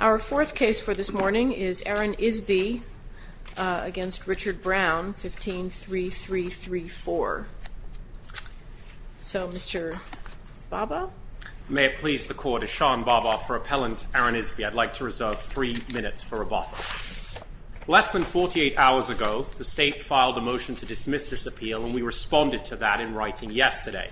Our fourth case for this morning is Aaron Isby against Richard Brown, 15-3334. So, Mr. Bhabha? May it please the Court, Ishan Bhabha for Appellant Aaron Isby. I'd like to reserve three minutes for rebuttal. Less than 48 hours ago, the State filed a motion to dismiss this appeal, and we responded to that in writing yesterday.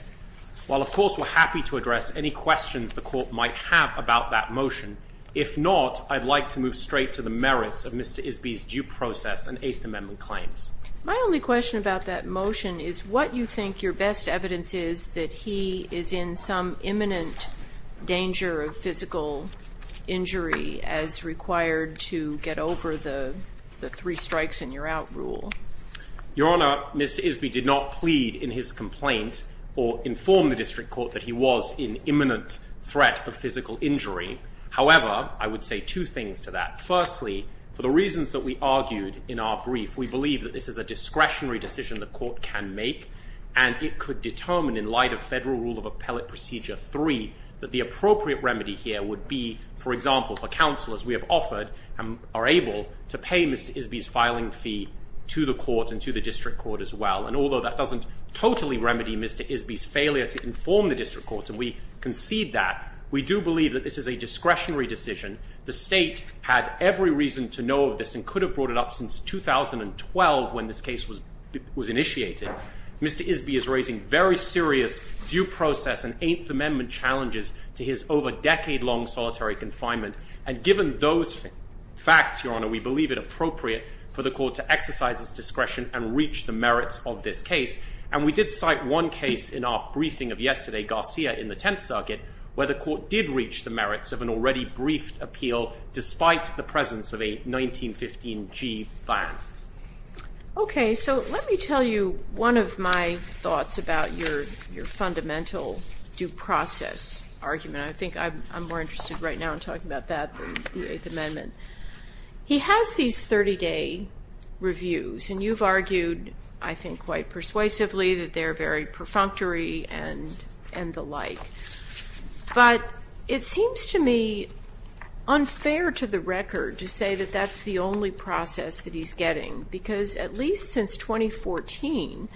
While, of course, we're happy to address any questions the Court might have about that motion, if not, I'd like to move straight to the merits of Mr. Isby's due process and Eighth Amendment claims. My only question about that motion is what you think your best evidence is that he is in some imminent danger of physical injury as required to get over the three strikes and you're out rule. Your Honor, Mr. Isby did not plead in his complaint or inform the District Court that he was in imminent threat of physical injury. However, I would say two things to that. Firstly, for the reasons that we argued in our brief, we believe that this is a discretionary decision the Court can make, and it could determine, in light of Federal Rule of Appellate Procedure 3, that the appropriate remedy here would be, for example, for counselors we have offered and are able to pay Mr. Isby's filing fee to the Court and to the District Court as well. And although that doesn't totally remedy Mr. Isby's failure to inform the District Court, and we concede that, we do believe that this is a discretionary decision. The State had every reason to know of this and could have brought it up since 2012 when this case was initiated. Mr. Isby is raising very serious due process and Eighth Amendment challenges to his over decade long solitary confinement. And given those facts, Your Honor, we believe it appropriate for the Court to exercise its discretion and reach the merits of this case. And we did cite one case in our briefing of yesterday, Garcia in the Tenth Circuit, where the Court did reach the merits of an already briefed appeal despite the presence of a 1915 G ban. Okay, so let me tell you one of my thoughts about your fundamental due process argument. I think I'm more interested right now in talking about that than the Eighth Amendment. He has these 30 day reviews, and you've argued, I think quite persuasively, that they're very perfunctory and the like. But it seems to me unfair to the record to say that that's the only process that he's getting. Because at least since 2014,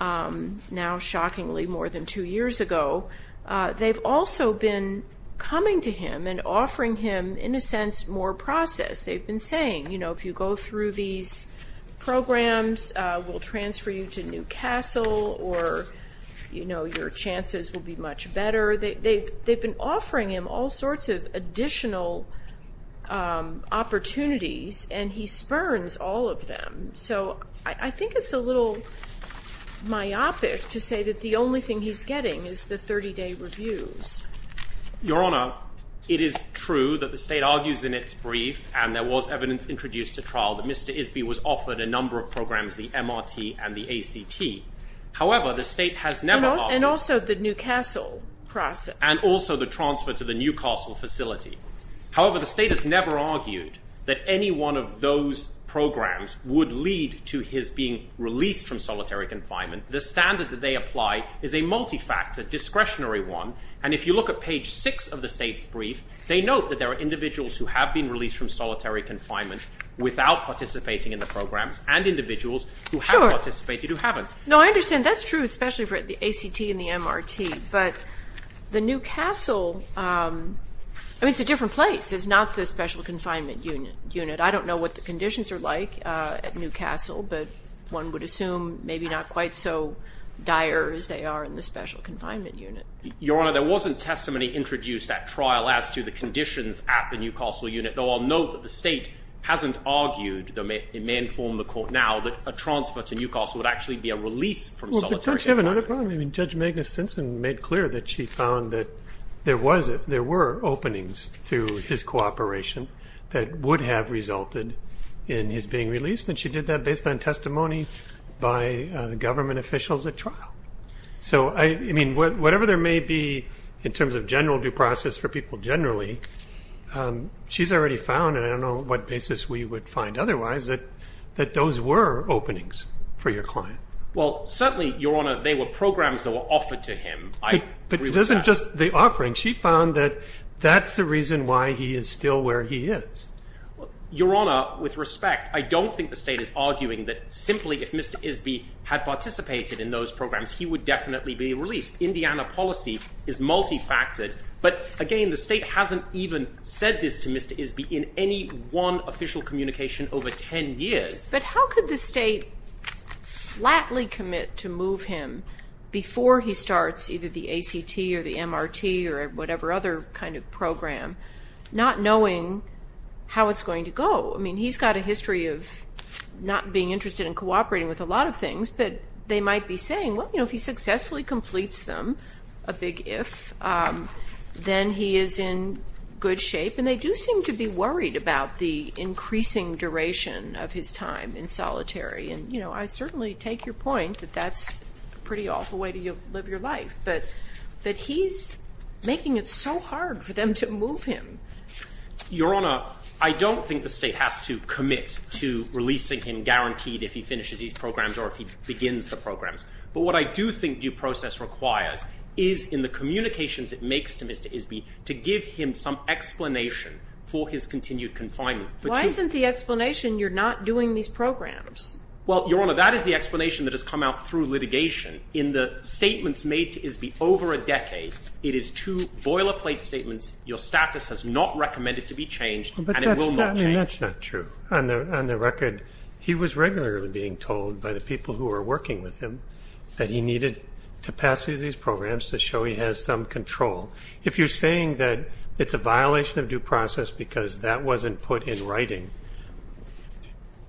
now shockingly more than two years ago, they've also been coming to him and offering him, in a sense, more process. They've been saying, if you go through these programs, we'll transfer you to New Castle, or your chances will be much better. They've been offering him all sorts of additional opportunities, and he spurns all of them. So I think it's a little myopic to say that the only thing he's getting is the 30 day reviews. Your Honor, it is true that the state argues in its brief, and there was evidence introduced at trial, that Mr. Isby was offered a number of programs, the MRT and the ACT. However, the state has never- And also the New Castle process. And also the transfer to the New Castle facility. However, the state has never argued that any one of those programs would lead to his being released from solitary confinement. The standard that they apply is a multi-factor, discretionary one. And if you look at page six of the state's brief, they note that there are individuals who have been released from solitary confinement without participating in the programs, and individuals who have participated who haven't. Sure. No, I understand. That's true, especially for the ACT and the MRT. But the New Castle, I mean, it's a different place. It's not the special confinement unit. I don't know what the conditions are like at New Castle, but one would assume maybe not quite so dire as they are in the special confinement unit. Your Honor, there wasn't testimony introduced at trial as to the conditions at the New Castle unit, though I'll note that the state hasn't argued, though it may inform the court now, that a transfer to New Castle would actually be a release from solitary confinement. Judge Magnus Sensen made clear that she found that there were openings to his cooperation that would have resulted in his being released, and she did that based on testimony by government officials at trial. So, I mean, whatever there may be in terms of general due process for people generally, she's already found, and I don't know what basis we would find otherwise, that those were openings for your client. Well, certainly, Your Honor, they were programs that were offered to him. I agree with that. But it isn't just the offering. She found that that's the reason why he is still where he is. Your Honor, with respect, I don't think the state is arguing that simply if Mr. Isby had participated in those programs, he would definitely be released. Indiana policy is multifactored. But, again, the state hasn't even said this to Mr. Isby in any one official communication over 10 years. But how could the state flatly commit to move him before he starts either the ACT or the MRT or whatever other kind of program, not knowing how it's going to go? I mean, he's got a history of not being interested in cooperating with a lot of things, but they might be saying, well, you know, if he successfully completes them, a big if, then he is in good shape. And they do seem to be worried about the increasing duration of his time in solitary. And, you know, I certainly take your point that that's a pretty awful way to live your life. But he's making it so hard for them to move him. Your Honor, I don't think the state has to commit to releasing him guaranteed if he finishes these programs or if he begins the programs. But what I do think due process requires is in the communications it makes to Mr. Isby to give him some explanation for his continued confinement. Why isn't the explanation you're not doing these programs? Well, Your Honor, that is the explanation that has come out through litigation. In the statements made to Isby over a decade, it is two boilerplate statements, your status has not recommended to be changed and it will not change. But that's not true. On the record, he was regularly being told by the people who were working with him that he needed to pass these programs to show he has some control. If you're saying that it's a violation of due process because that wasn't put in writing,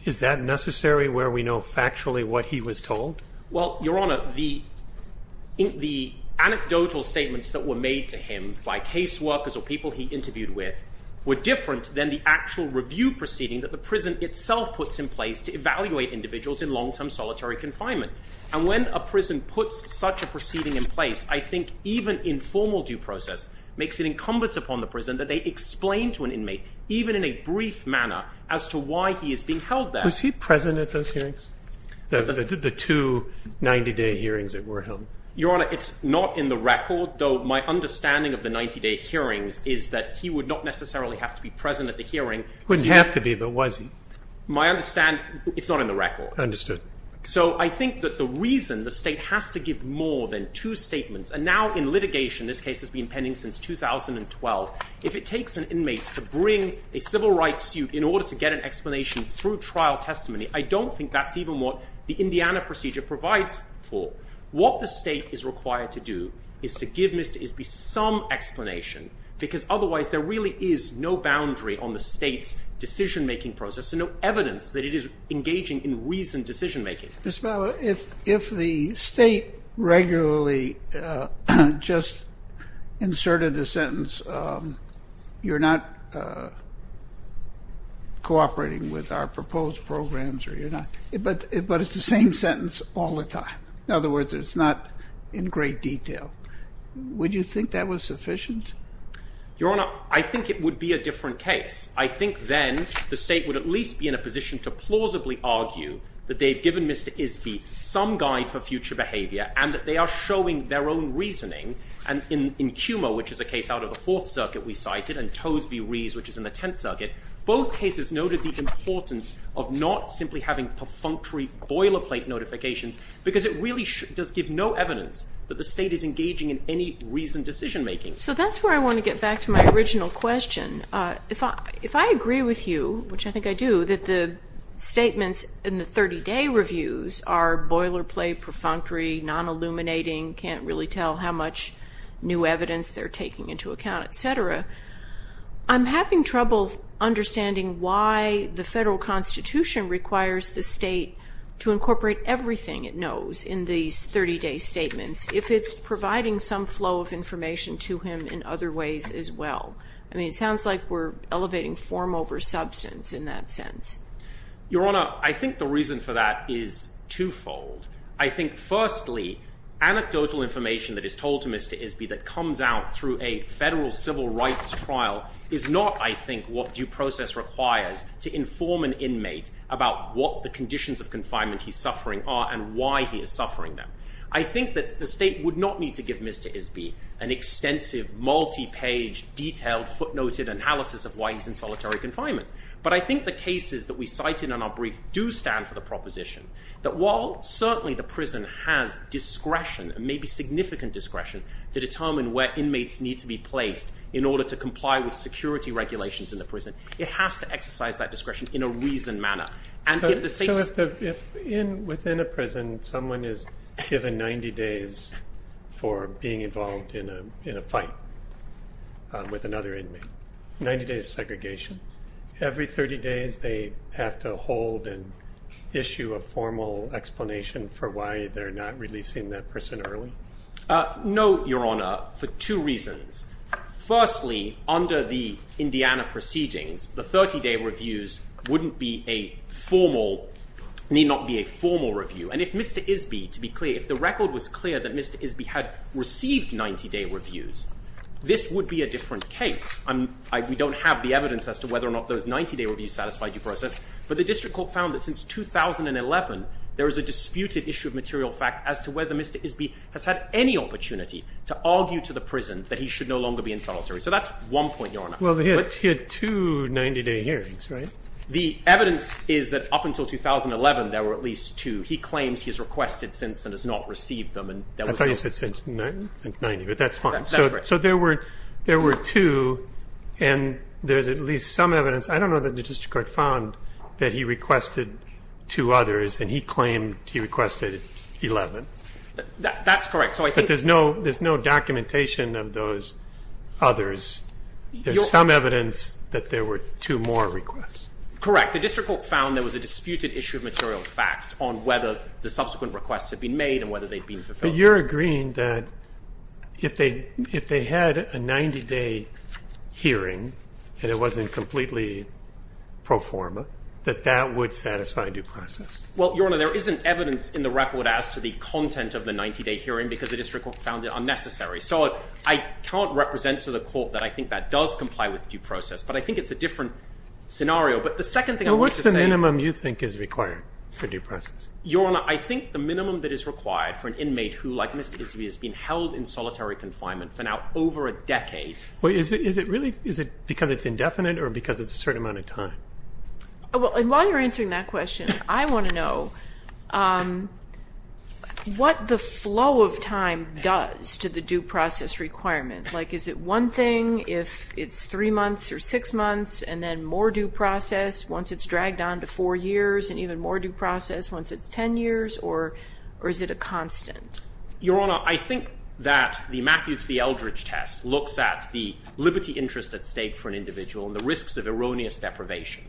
is that necessary where we know factually what he was told? Well, Your Honor, the anecdotal statements that were made to him by case workers or people he interviewed with were different than the actual review proceeding that the prison itself puts in place to evaluate individuals in long-term solitary confinement. And when a prison puts such a proceeding in place, I think even informal due process makes it incumbent upon the prison that they explain to an inmate, even in a brief manner, as to why he is being held there. Was he present at those hearings, the two 90-day hearings that were held? Your Honor, it's not in the record, though my understanding of the 90-day hearings is that he would not necessarily have to be present at the hearing. He wouldn't have to be, but was he? My understanding, it's not in the record. Understood. So I think that the reason the state has to give more than two statements, and now in litigation this case has been pending since 2012, if it takes an inmate to bring a civil rights suit in order to get an explanation through trial testimony, I don't think that's even what the Indiana procedure provides for. What the state is required to do is to give Mr. Isby some explanation because otherwise there really is no boundary on the state's decision-making process and no evidence that it is engaging in reasoned decision-making. Mr. Bauer, if the state regularly just inserted the sentence, you're not cooperating with our proposed programs or you're not, but it's the same sentence all the time. In other words, it's not in great detail. Would you think that was sufficient? Your Honor, I think it would be a different case. I think then the state would at least be in a position to plausibly argue that they've given Mr. Isby some guide for future behavior and that they are showing their own reasoning. And in CUMA, which is a case out of the Fourth Circuit we cited, and Toes v. Rees, which is in the Tenth Circuit, both cases noted the importance of not simply having perfunctory boilerplate notifications because it really does give no evidence that the state is engaging in any reasoned decision-making. So that's where I want to get back to my original question. If I agree with you, which I think I do, that the statements in the 30-day reviews are boilerplate, perfunctory, non-illuminating, can't really tell how much new evidence they're taking into account, et cetera, I'm having trouble understanding why the federal Constitution requires the state to incorporate everything it knows in these 30-day statements if it's providing some flow of information to him in other ways as well. I mean, it sounds like we're elevating form over substance in that sense. Your Honor, I think the reason for that is twofold. I think, firstly, anecdotal information that is told to Mr. Isby that comes out through a federal civil rights trial is not, I think, what due process requires to inform an inmate about what the conditions of confinement he's suffering are and why he is suffering them. I think that the state would not need to give Mr. Isby an extensive, multi-page, detailed, footnoted analysis of why he's in solitary confinement. But I think the cases that we cited in our brief do stand for the proposition that while certainly the prison has discretion, maybe significant discretion, to determine where inmates need to be placed in order to comply with security regulations in the prison, So if within a prison someone is given 90 days for being involved in a fight with another inmate, 90 days of segregation, every 30 days they have to hold and issue a formal explanation for why they're not releasing that person early? No, Your Honor, for two reasons. Firstly, under the Indiana proceedings, the 30-day reviews need not be a formal review. And if Mr. Isby, to be clear, if the record was clear that Mr. Isby had received 90-day reviews, this would be a different case. We don't have the evidence as to whether or not those 90-day reviews satisfied due process, but the District Court found that since 2011, there is a disputed issue of material fact as to whether Mr. Isby has had any opportunity to argue to the prison that he should no longer be in solitary. So that's one point, Your Honor. Well, he had two 90-day hearings, right? The evidence is that up until 2011, there were at least two. He claims he has requested since and has not received them. I thought you said since 1990, but that's fine. That's correct. So there were two, and there's at least some evidence. I don't know that the District Court found that he requested two others, and he claimed he requested 11. That's correct. But there's no documentation of those others. There's some evidence that there were two more requests. Correct. The District Court found there was a disputed issue of material fact on whether the subsequent requests had been made and whether they'd been fulfilled. So you're agreeing that if they had a 90-day hearing and it wasn't completely pro forma, that that would satisfy due process? Well, Your Honor, there isn't evidence in the record as to the content of the 90-day hearing because the District Court found it unnecessary. So I can't represent to the court that I think that does comply with due process, but I think it's a different scenario. But the second thing I want to say – Well, what's the minimum you think is required for due process? Your Honor, I think the minimum that is required for an inmate who, like Mr. Gisby, has been held in solitary confinement for now over a decade. Is it because it's indefinite or because it's a certain amount of time? While you're answering that question, I want to know what the flow of time does to the due process requirement. Is it one thing if it's three months or six months and then more due process once it's dragged on to four years and even more due process once it's ten years, or is it a constant? Your Honor, I think that the Matthews v. Eldridge test looks at the liberty interest at stake for an individual and the risks of erroneous deprivation.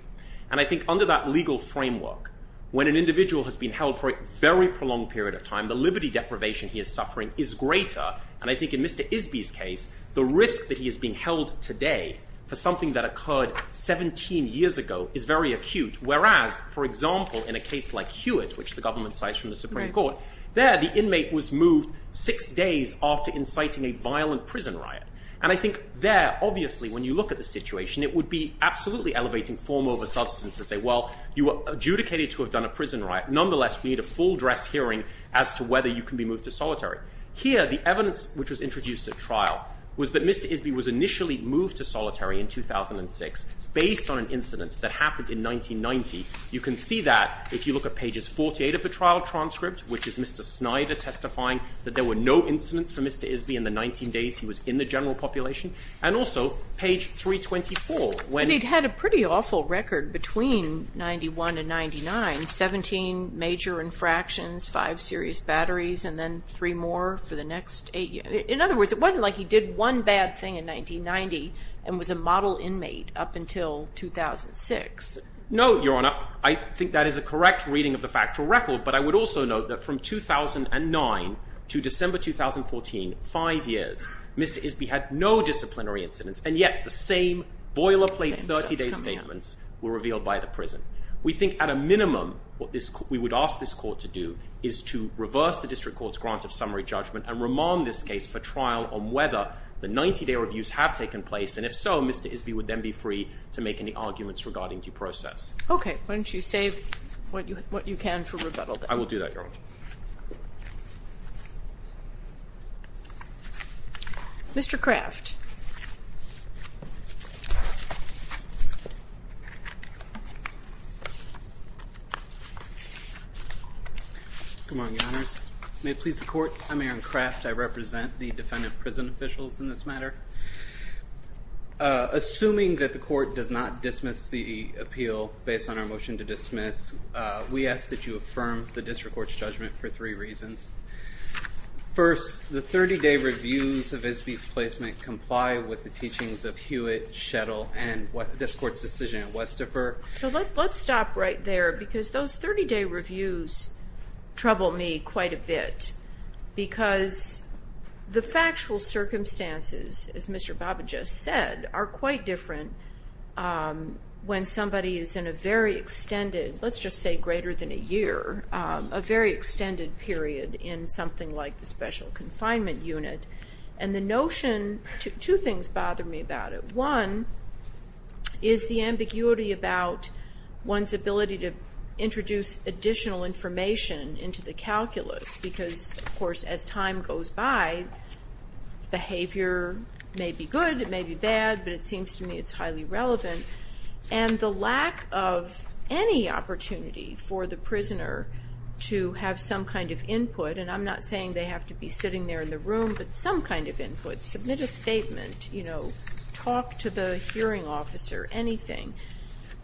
And I think under that legal framework, when an individual has been held for a very prolonged period of time, the liberty deprivation he is suffering is greater. And I think in Mr. Gisby's case, the risk that he is being held today for something that occurred 17 years ago is very acute. Whereas, for example, in a case like Hewitt, which the government cites from the Supreme Court, there the inmate was moved six days after inciting a violent prison riot. And I think there, obviously, when you look at the situation, it would be absolutely elevating form over substance to say, well, you were adjudicated to have done a prison riot. Nonetheless, we need a full dress hearing as to whether you can be moved to solitary. Here, the evidence which was introduced at trial was that Mr. Gisby was initially moved to solitary in 2006 based on an incident that happened in 1990. You can see that if you look at pages 48 of the trial transcript, which is Mr. Snyder testifying that there were no incidents for Mr. Gisby in the 19 days he was in the general population, and also page 324. But he'd had a pretty awful record between 1991 and 1999, 17 major infractions, five serious batteries, and then three more for the next eight years. In other words, it wasn't like he did one bad thing in 1990 and was a model inmate up until 2006. No, Your Honor. I think that is a correct reading of the factual record. But I would also note that from 2009 to December 2014, five years, Mr. Gisby had no disciplinary incidents. And yet the same boilerplate 30-day statements were revealed by the prison. We think at a minimum what we would ask this court to do is to reverse the district court's grant of summary judgment and remand this case for trial on whether the 90-day reviews have taken place. And if so, Mr. Gisby would then be free to make any arguments regarding due process. Okay. Why don't you save what you can for rebuttal then? I will do that, Your Honor. Mr. Kraft. Good morning, Your Honors. May it please the court, I'm Aaron Kraft. I represent the defendant prison officials in this matter. Assuming that the court does not dismiss the appeal based on our motion to dismiss, we ask that you affirm the district court's judgment for three reasons. First, the 30-day reviews of Gisby's placement comply with the teachings of Hewitt, Shettle, and this court's decision at Westifer. So let's stop right there because those 30-day reviews trouble me quite a bit because the factual circumstances, as Mr. Baba just said, are quite different when somebody is in a very extended, let's just say greater than a year, a very extended period in something like the special confinement unit. And the notion, two things bother me about it. One is the ambiguity about one's ability to introduce additional information into the calculus because, of course, as time goes by, behavior may be good, it may be bad, but it seems to me it's highly relevant. And the lack of any opportunity for the prisoner to have some kind of input, and I'm not saying they have to be sitting there in the room, but some kind of input. Submit a statement, talk to the hearing officer, anything.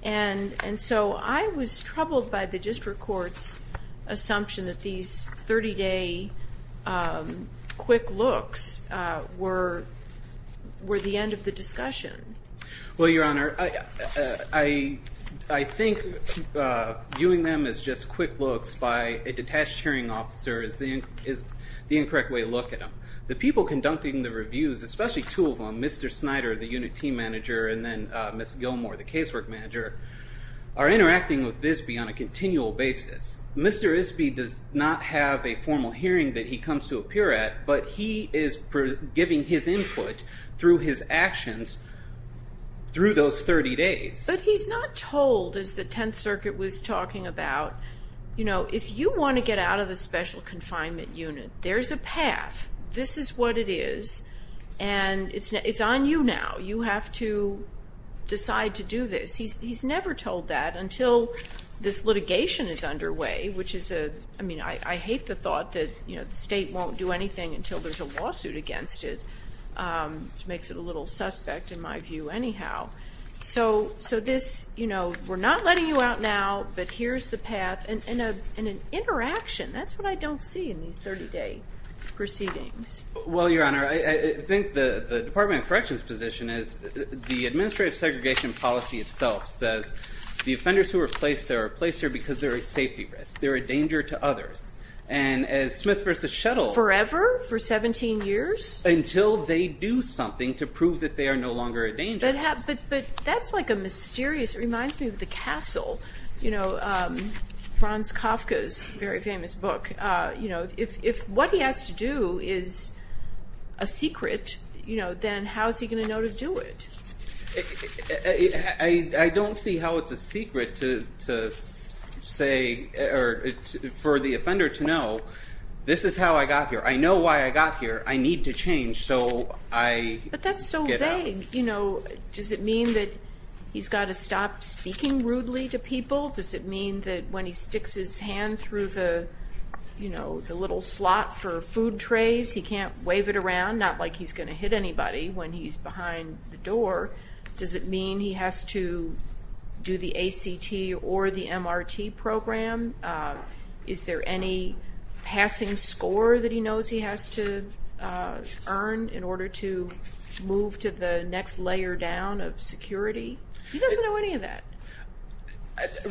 And so I was troubled by the district court's assumption that these 30-day quick looks were the end of the discussion. Well, Your Honor, I think viewing them as just quick looks by a detached hearing officer is the incorrect way to look at them. The people conducting the reviews, especially two of them, Mr. Snyder, the unit team manager, and then Ms. Gilmore, the casework manager, are interacting with Bisbee on a continual basis. Mr. Bisbee does not have a formal hearing that he comes to appear at, but he is giving his input through his actions through those 30 days. But he's not told, as the Tenth Circuit was talking about, if you want to get out of the special confinement unit, there's a path. This is what it is, and it's on you now. You have to decide to do this. He's never told that until this litigation is underway, which is a, I mean, I hate the thought that the state won't do anything until there's a lawsuit against it, which makes it a little suspect in my view anyhow. So this, you know, we're not letting you out now, but here's the path. And an interaction, that's what I don't see in these 30-day proceedings. Well, Your Honor, I think the Department of Corrections' position is the administrative segregation policy itself says the offenders who are placed there are placed there because they're a safety risk. They're a danger to others. And as Smith v. Shuttle Forever? For 17 years? Until they do something to prove that they are no longer a danger. But that's like a mysterious, it reminds me of the castle. You know, Franz Kafka's very famous book. If what he has to do is a secret, then how is he going to know to do it? I don't see how it's a secret to say, or for the offender to know, this is how I got here. I know why I got here. I need to change, so I get out. Does it mean that he's got to stop speaking rudely to people? Does it mean that when he sticks his hand through the little slot for food trays, he can't wave it around, not like he's going to hit anybody when he's behind the door? Does it mean he has to do the ACT or the MRT program? Is there any passing score that he knows he has to earn in order to move to the next layer down of security? He doesn't know any of that.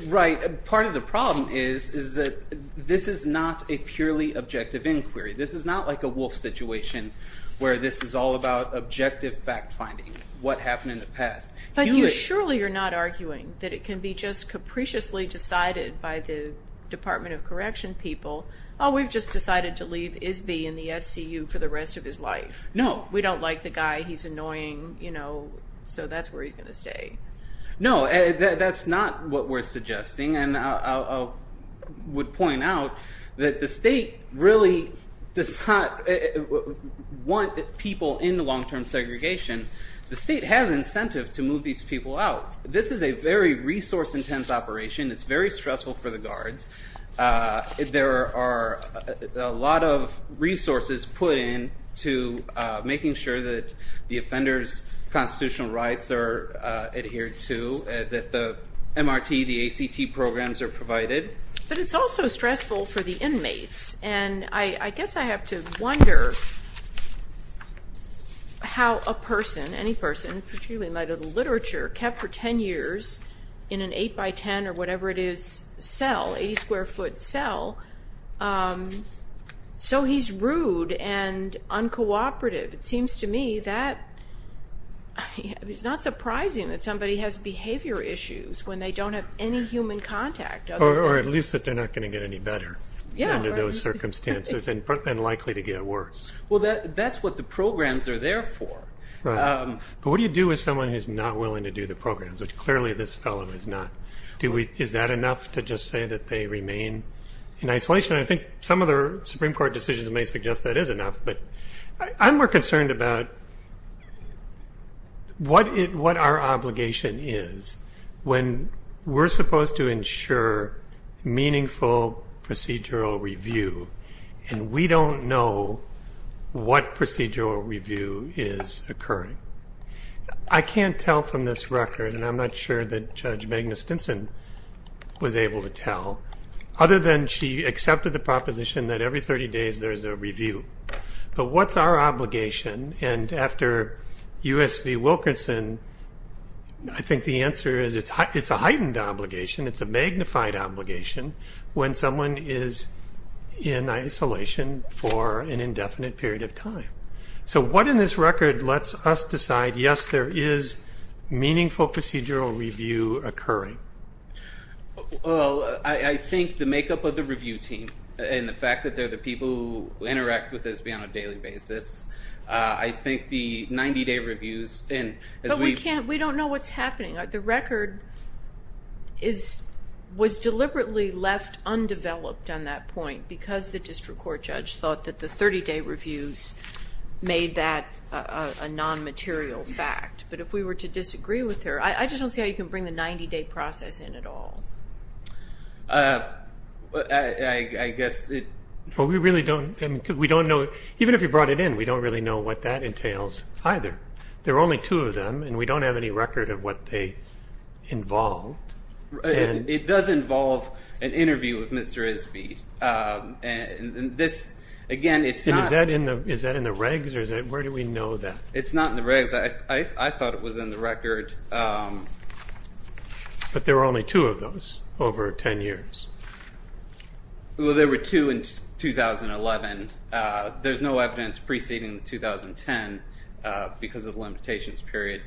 Right. Part of the problem is that this is not a purely objective inquiry. This is not like a Wolf situation where this is all about objective fact-finding, what happened in the past. But you surely are not arguing that it can be just capriciously decided by the Department of Correction people, oh, we've just decided to leave Isby in the SCU for the rest of his life. No. We don't like the guy. He's annoying, so that's where he's going to stay. No, that's not what we're suggesting, and I would point out that the state really does not want people in the long-term segregation. The state has incentive to move these people out. This is a very resource-intense operation. It's very stressful for the guards. There are a lot of resources put in to making sure that the offender's constitutional rights are adhered to, that the MRT, the ACT programs are provided. But it's also stressful for the inmates, and I guess I have to wonder how a person, any person, particularly in the literature, kept for 10 years in an 8-by-10 or whatever it is cell, 80-square-foot cell, so he's rude and uncooperative. It seems to me that it's not surprising that somebody has behavior issues when they don't have any human contact. Or at least that they're not going to get any better under those circumstances and likely to get worse. Well, that's what the programs are there for. But what do you do with someone who's not willing to do the programs, which clearly this fellow is not? Is that enough to just say that they remain in isolation? I think some of the Supreme Court decisions may suggest that is enough, but I'm more concerned about what our obligation is when we're supposed to ensure meaningful procedural review, and we don't know what procedural review is occurring. I can't tell from this record, and I'm not sure that Judge Magna Stinson was able to tell, other than she accepted the proposition that every 30 days there's a review. But what's our obligation? And after U.S. v. Wilkerson, I think the answer is it's a heightened obligation. It's a magnified obligation when someone is in isolation for an indefinite period of time. So what in this record lets us decide, yes, there is meaningful procedural review occurring? Well, I think the makeup of the review team and the fact that they're the people who interact with us on a daily basis. I think the 90-day reviews and as we've- But we don't know what's happening. The record was deliberately left undeveloped on that point because the district court judge thought that the 30-day reviews made that a non-material fact. But if we were to disagree with her, I just don't see how you can bring the 90-day process in at all. I guess it- Well, we really don't know. Even if you brought it in, we don't really know what that entails either. There are only two of them, and we don't have any record of what they involved. It does involve an interview with Mr. Isby. And this, again, it's not- Is that in the regs, or where do we know that? It's not in the regs. I thought it was in the record. But there were only two of those over 10 years. Well, there were two in 2011. There's no evidence preceding 2010 because of the limitations period.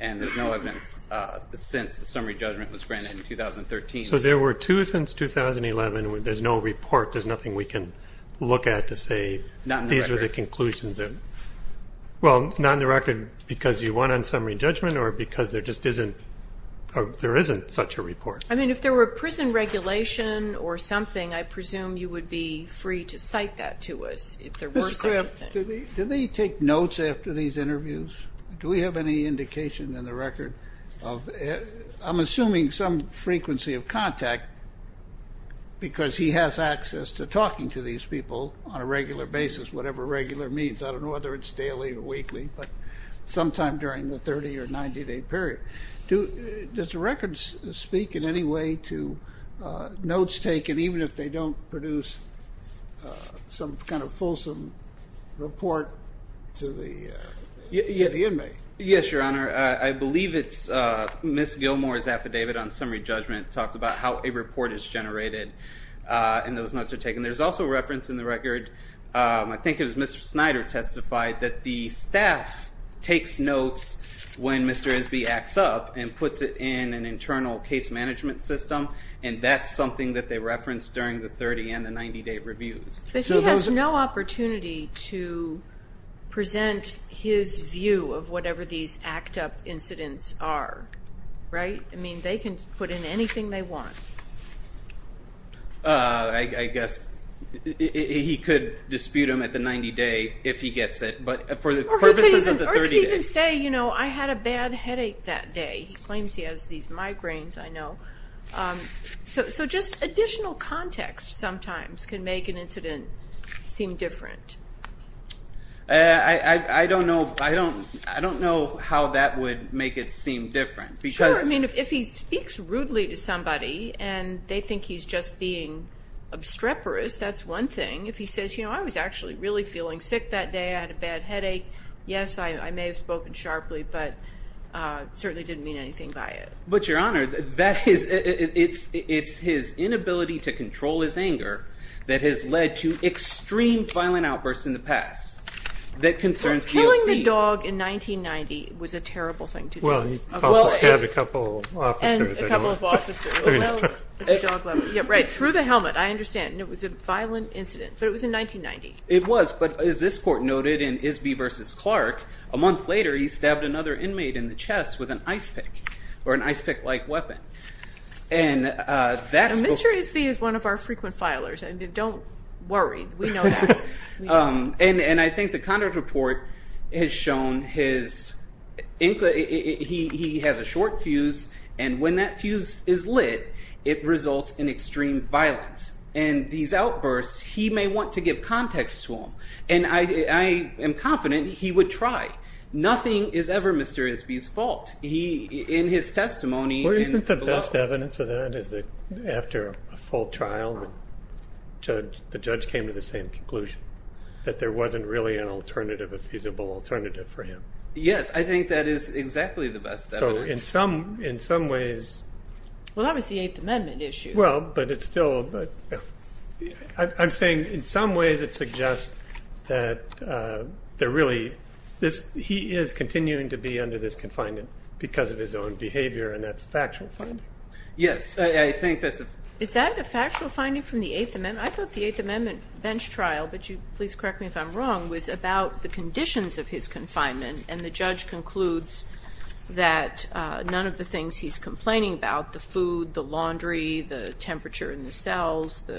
And there's no evidence since the summary judgment was granted in 2013. So there were two since 2011. There's no report. There's nothing we can look at to say these were the conclusions. Not in the record. Well, not in the record because you won on summary judgment or because there just isn't- there isn't such a report. I mean, if there were a prison regulation or something, I presume you would be free to cite that to us if there were such a thing. Did they take notes after these interviews? Do we have any indication in the record of- I'm assuming some frequency of contact because he has access to talking to these people on a regular basis, whatever regular means. I don't know whether it's daily or weekly, but sometime during the 30- or 90-day period. Does the record speak in any way to notes taken, even if they don't produce some kind of fulsome report to the inmate? Yes, Your Honor. I believe it's Ms. Gilmore's affidavit on summary judgment talks about how a report is generated and those notes are taken. There's also reference in the record, I think it was Mr. Snyder testified, that the staff takes notes when Mr. Esby acts up and puts it in an internal case management system, and that's something that they referenced during the 30- and the 90-day reviews. But he has no opportunity to present his view of whatever these act-up incidents are, right? I mean, they can put in anything they want. I guess he could dispute them at the 90-day if he gets it, but for the purposes of the 30-day. Or he could even say, you know, I had a bad headache that day. He claims he has these migraines, I know. So just additional context sometimes can make an incident seem different. I don't know how that would make it seem different. Sure, I mean, if he speaks rudely to somebody and they think he's just being obstreperous, that's one thing. If he says, you know, I was actually really feeling sick that day, I had a bad headache, yes, I may have spoken sharply, but certainly didn't mean anything by it. But, Your Honor, it's his inability to control his anger that has led to extreme violent outbursts in the past that concerns DOC. Well, killing the dog in 1990 was a terrible thing to do. Well, he also stabbed a couple of officers. Right, through the helmet, I understand. It was a violent incident, but it was in 1990. It was, but as this court noted in Isby v. Clark, a month later he stabbed another inmate in the chest with an ice pick, or an ice pick-like weapon. And Mr. Isby is one of our frequent filers. Don't worry, we know that. And I think the conduct report has shown his, he has a short fuse, and when that fuse is lit, it results in extreme violence. And these outbursts, he may want to give context to them. And I am confident he would try. Nothing is ever Mr. Isby's fault. He, in his testimony- The best evidence of that is that after a full trial, the judge came to the same conclusion, that there wasn't really an alternative, a feasible alternative for him. Yes, I think that is exactly the best evidence. So in some ways- Well, that was the Eighth Amendment issue. Well, but it's still, I'm saying in some ways it suggests that there really, he is continuing to be under this confinement because of his own behavior, and that's a factual finding. Yes, I think that's a- Is that a factual finding from the Eighth Amendment? I thought the Eighth Amendment bench trial, but you, please correct me if I'm wrong, was about the conditions of his confinement. And the judge concludes that none of the things he's complaining about, the food, the laundry, the temperature in the cells,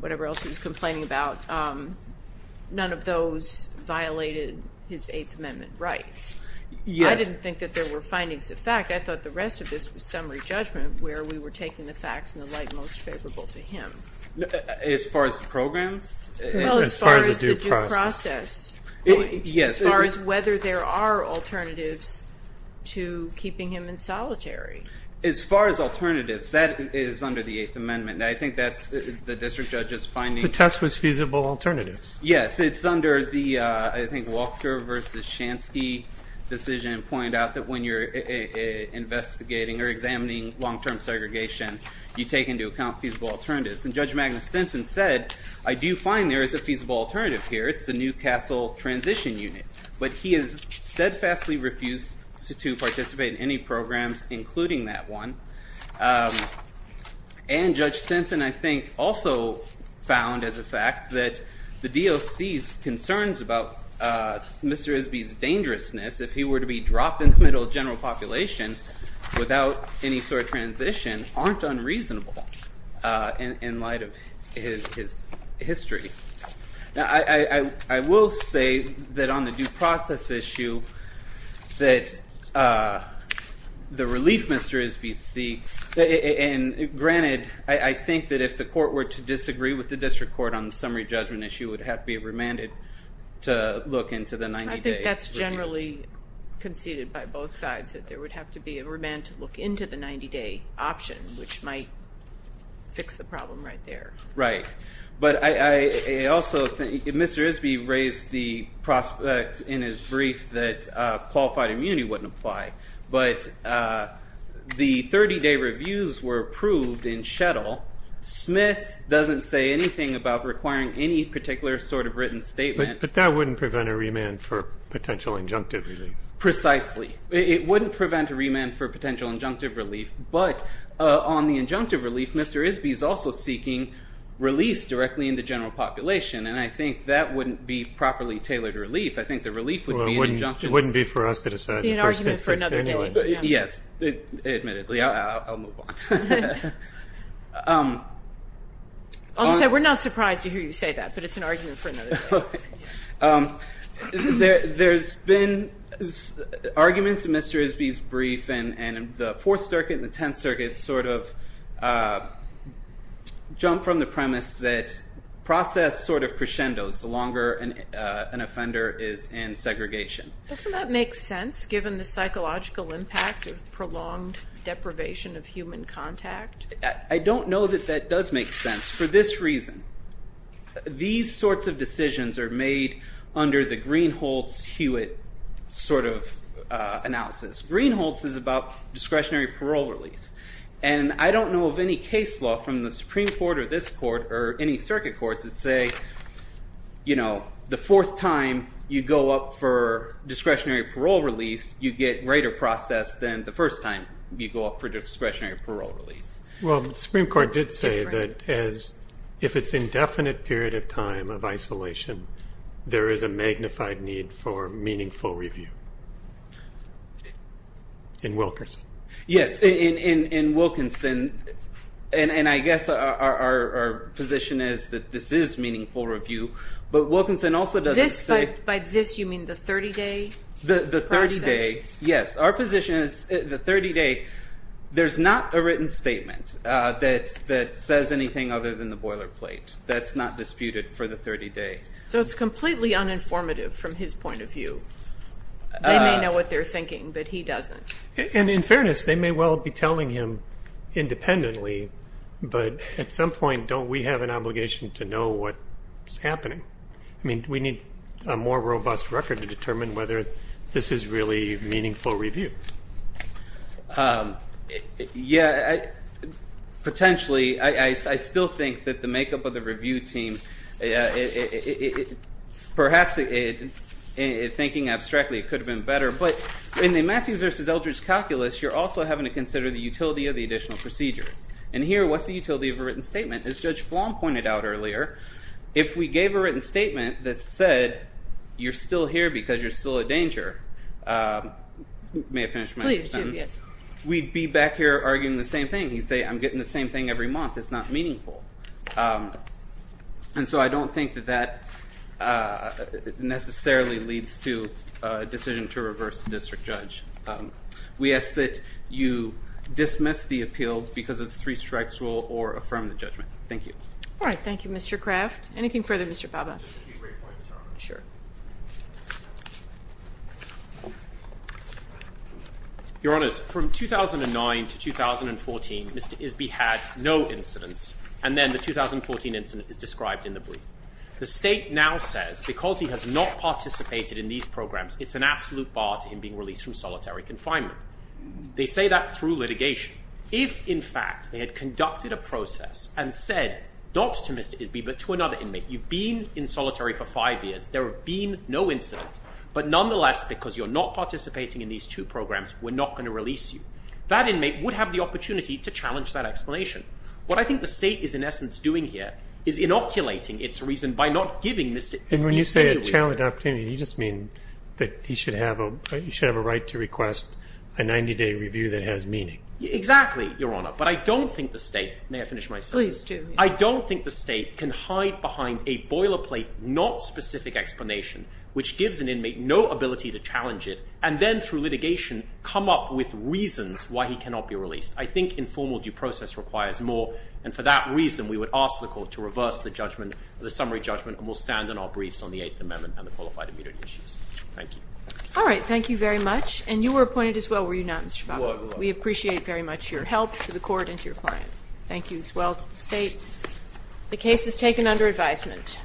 whatever else he's complaining about, none of those violated his Eighth Amendment rights. I didn't think that there were findings of fact. I thought the rest of this was summary judgment where we were taking the facts in the light most favorable to him. As far as the programs? Well, as far as the due process. As far as whether there are alternatives to keeping him in solitary. As far as alternatives, that is under the Eighth Amendment. I think that's the district judge's finding. The test was feasible alternatives. Yes, it's under the, I think, Walker v. Shansky decision pointed out that when you're investigating or examining long-term segregation, you take into account feasible alternatives. And Judge Magnus Stinson said, I do find there is a feasible alternative here. It's the New Castle Transition Unit. But he has steadfastly refused to participate in any programs including that one. And Judge Stinson, I think, also found as a fact that the DOC's concerns about Mr. Isby's dangerousness, if he were to be dropped in the middle of general population without any sort of transition, aren't unreasonable in light of his history. Now, I will say that on the due process issue, that the relief Mr. Isby seeks, and granted, I think that if the court were to disagree with the district court on the summary judgment issue, it would have to be remanded to look into the 90-day. I think that's generally conceded by both sides, that there would have to be a remand to look into the 90-day option, which might fix the problem right there. Right. But I also think Mr. Isby raised the prospect in his brief that qualified immunity wouldn't apply. But the 30-day reviews were approved in Shettle. Smith doesn't say anything about requiring any particular sort of written statement. But that wouldn't prevent a remand for potential injunctive relief. Precisely. It wouldn't prevent a remand for potential injunctive relief. But on the injunctive relief, Mr. Isby is also seeking release directly in the general population, and I think that wouldn't be properly tailored relief. I think the relief would be an injunction. It wouldn't be for us to decide. It would be an argument for another day. Yes, admittedly. I'll move on. I'll say we're not surprised to hear you say that, but it's an argument for another day. There's been arguments in Mr. Isby's brief, and the Fourth Circuit and the Tenth Circuit sort of jump from the premise that process sort of crescendos the longer an offender is in segregation. Doesn't that make sense, given the psychological impact of prolonged deprivation of human contact? I don't know that that does make sense. For this reason, these sorts of decisions are made under the Greenholz-Hewitt sort of analysis. Greenholz is about discretionary parole release, and I don't know of any case law from the Supreme Court or this court or any circuit courts that say, you know, the fourth time you go up for discretionary parole release, you get greater process than the first time you go up for discretionary parole release. Well, the Supreme Court did say that if it's indefinite period of time of isolation, there is a magnified need for meaningful review in Wilkinson. Yes, in Wilkinson, and I guess our position is that this is meaningful review, but Wilkinson also doesn't say. By this, you mean the 30-day process? The 30-day, yes. Our position is the 30-day, there's not a written statement that says anything other than the boilerplate. That's not disputed for the 30-day. So it's completely uninformative from his point of view. They may know what they're thinking, but he doesn't. And in fairness, they may well be telling him independently, but at some point don't we have an obligation to know what's happening? I mean, do we need a more robust record to determine whether this is really meaningful review? Yeah, potentially. I still think that the makeup of the review team, perhaps thinking abstractly, could have been better. But in the Matthews v. Eldridge calculus, you're also having to consider the utility of the additional procedures. And here, what's the utility of a written statement? As Judge Flom pointed out earlier, if we gave a written statement that said, you're still here because you're still a danger, may I finish my sentence? Please do, yes. We'd be back here arguing the same thing. You say, I'm getting the same thing every month. It's not meaningful. And so I don't think that that necessarily leads to a decision to reverse the district judge. We ask that you dismiss the appeal because of the three strikes rule or affirm the judgment. Thank you. All right. Thank you, Mr. Craft. Anything further, Mr. Baba? Just a few brief points, Your Honor. Sure. Your Honor, from 2009 to 2014, Mr. Isby had no incidents. And then the 2014 incident is described in the brief. The state now says, because he has not participated in these programs, it's an absolute bar to him being released from solitary confinement. They say that through litigation. If, in fact, they had conducted a process and said not to Mr. Isby but to another inmate, you've been in solitary for five years. There have been no incidents. But nonetheless, because you're not participating in these two programs, we're not going to release you. That inmate would have the opportunity to challenge that explanation. What I think the state is, in essence, doing here is inoculating its reason by not giving Mr. Isby any reason. And when you say a challenged opportunity, you just mean that he should have a right to request a 90-day review that has meaning. Exactly, Your Honor. But I don't think the state – may I finish my sentence? Please do. I don't think the state can hide behind a boilerplate, not specific explanation, which gives an inmate no ability to challenge it, and then, through litigation, come up with reasons why he cannot be released. I think informal due process requires more. And for that reason, we would ask the court to reverse the judgment, the summary judgment, and we'll stand on our briefs on the Eighth Amendment and the qualified immunity issues. Thank you. All right. Thank you very much. And you were appointed as well, were you not, Mr. Babak? We were. We appreciate very much your help to the court and to your client. Thank you as well to the state. The case is taken under advisement.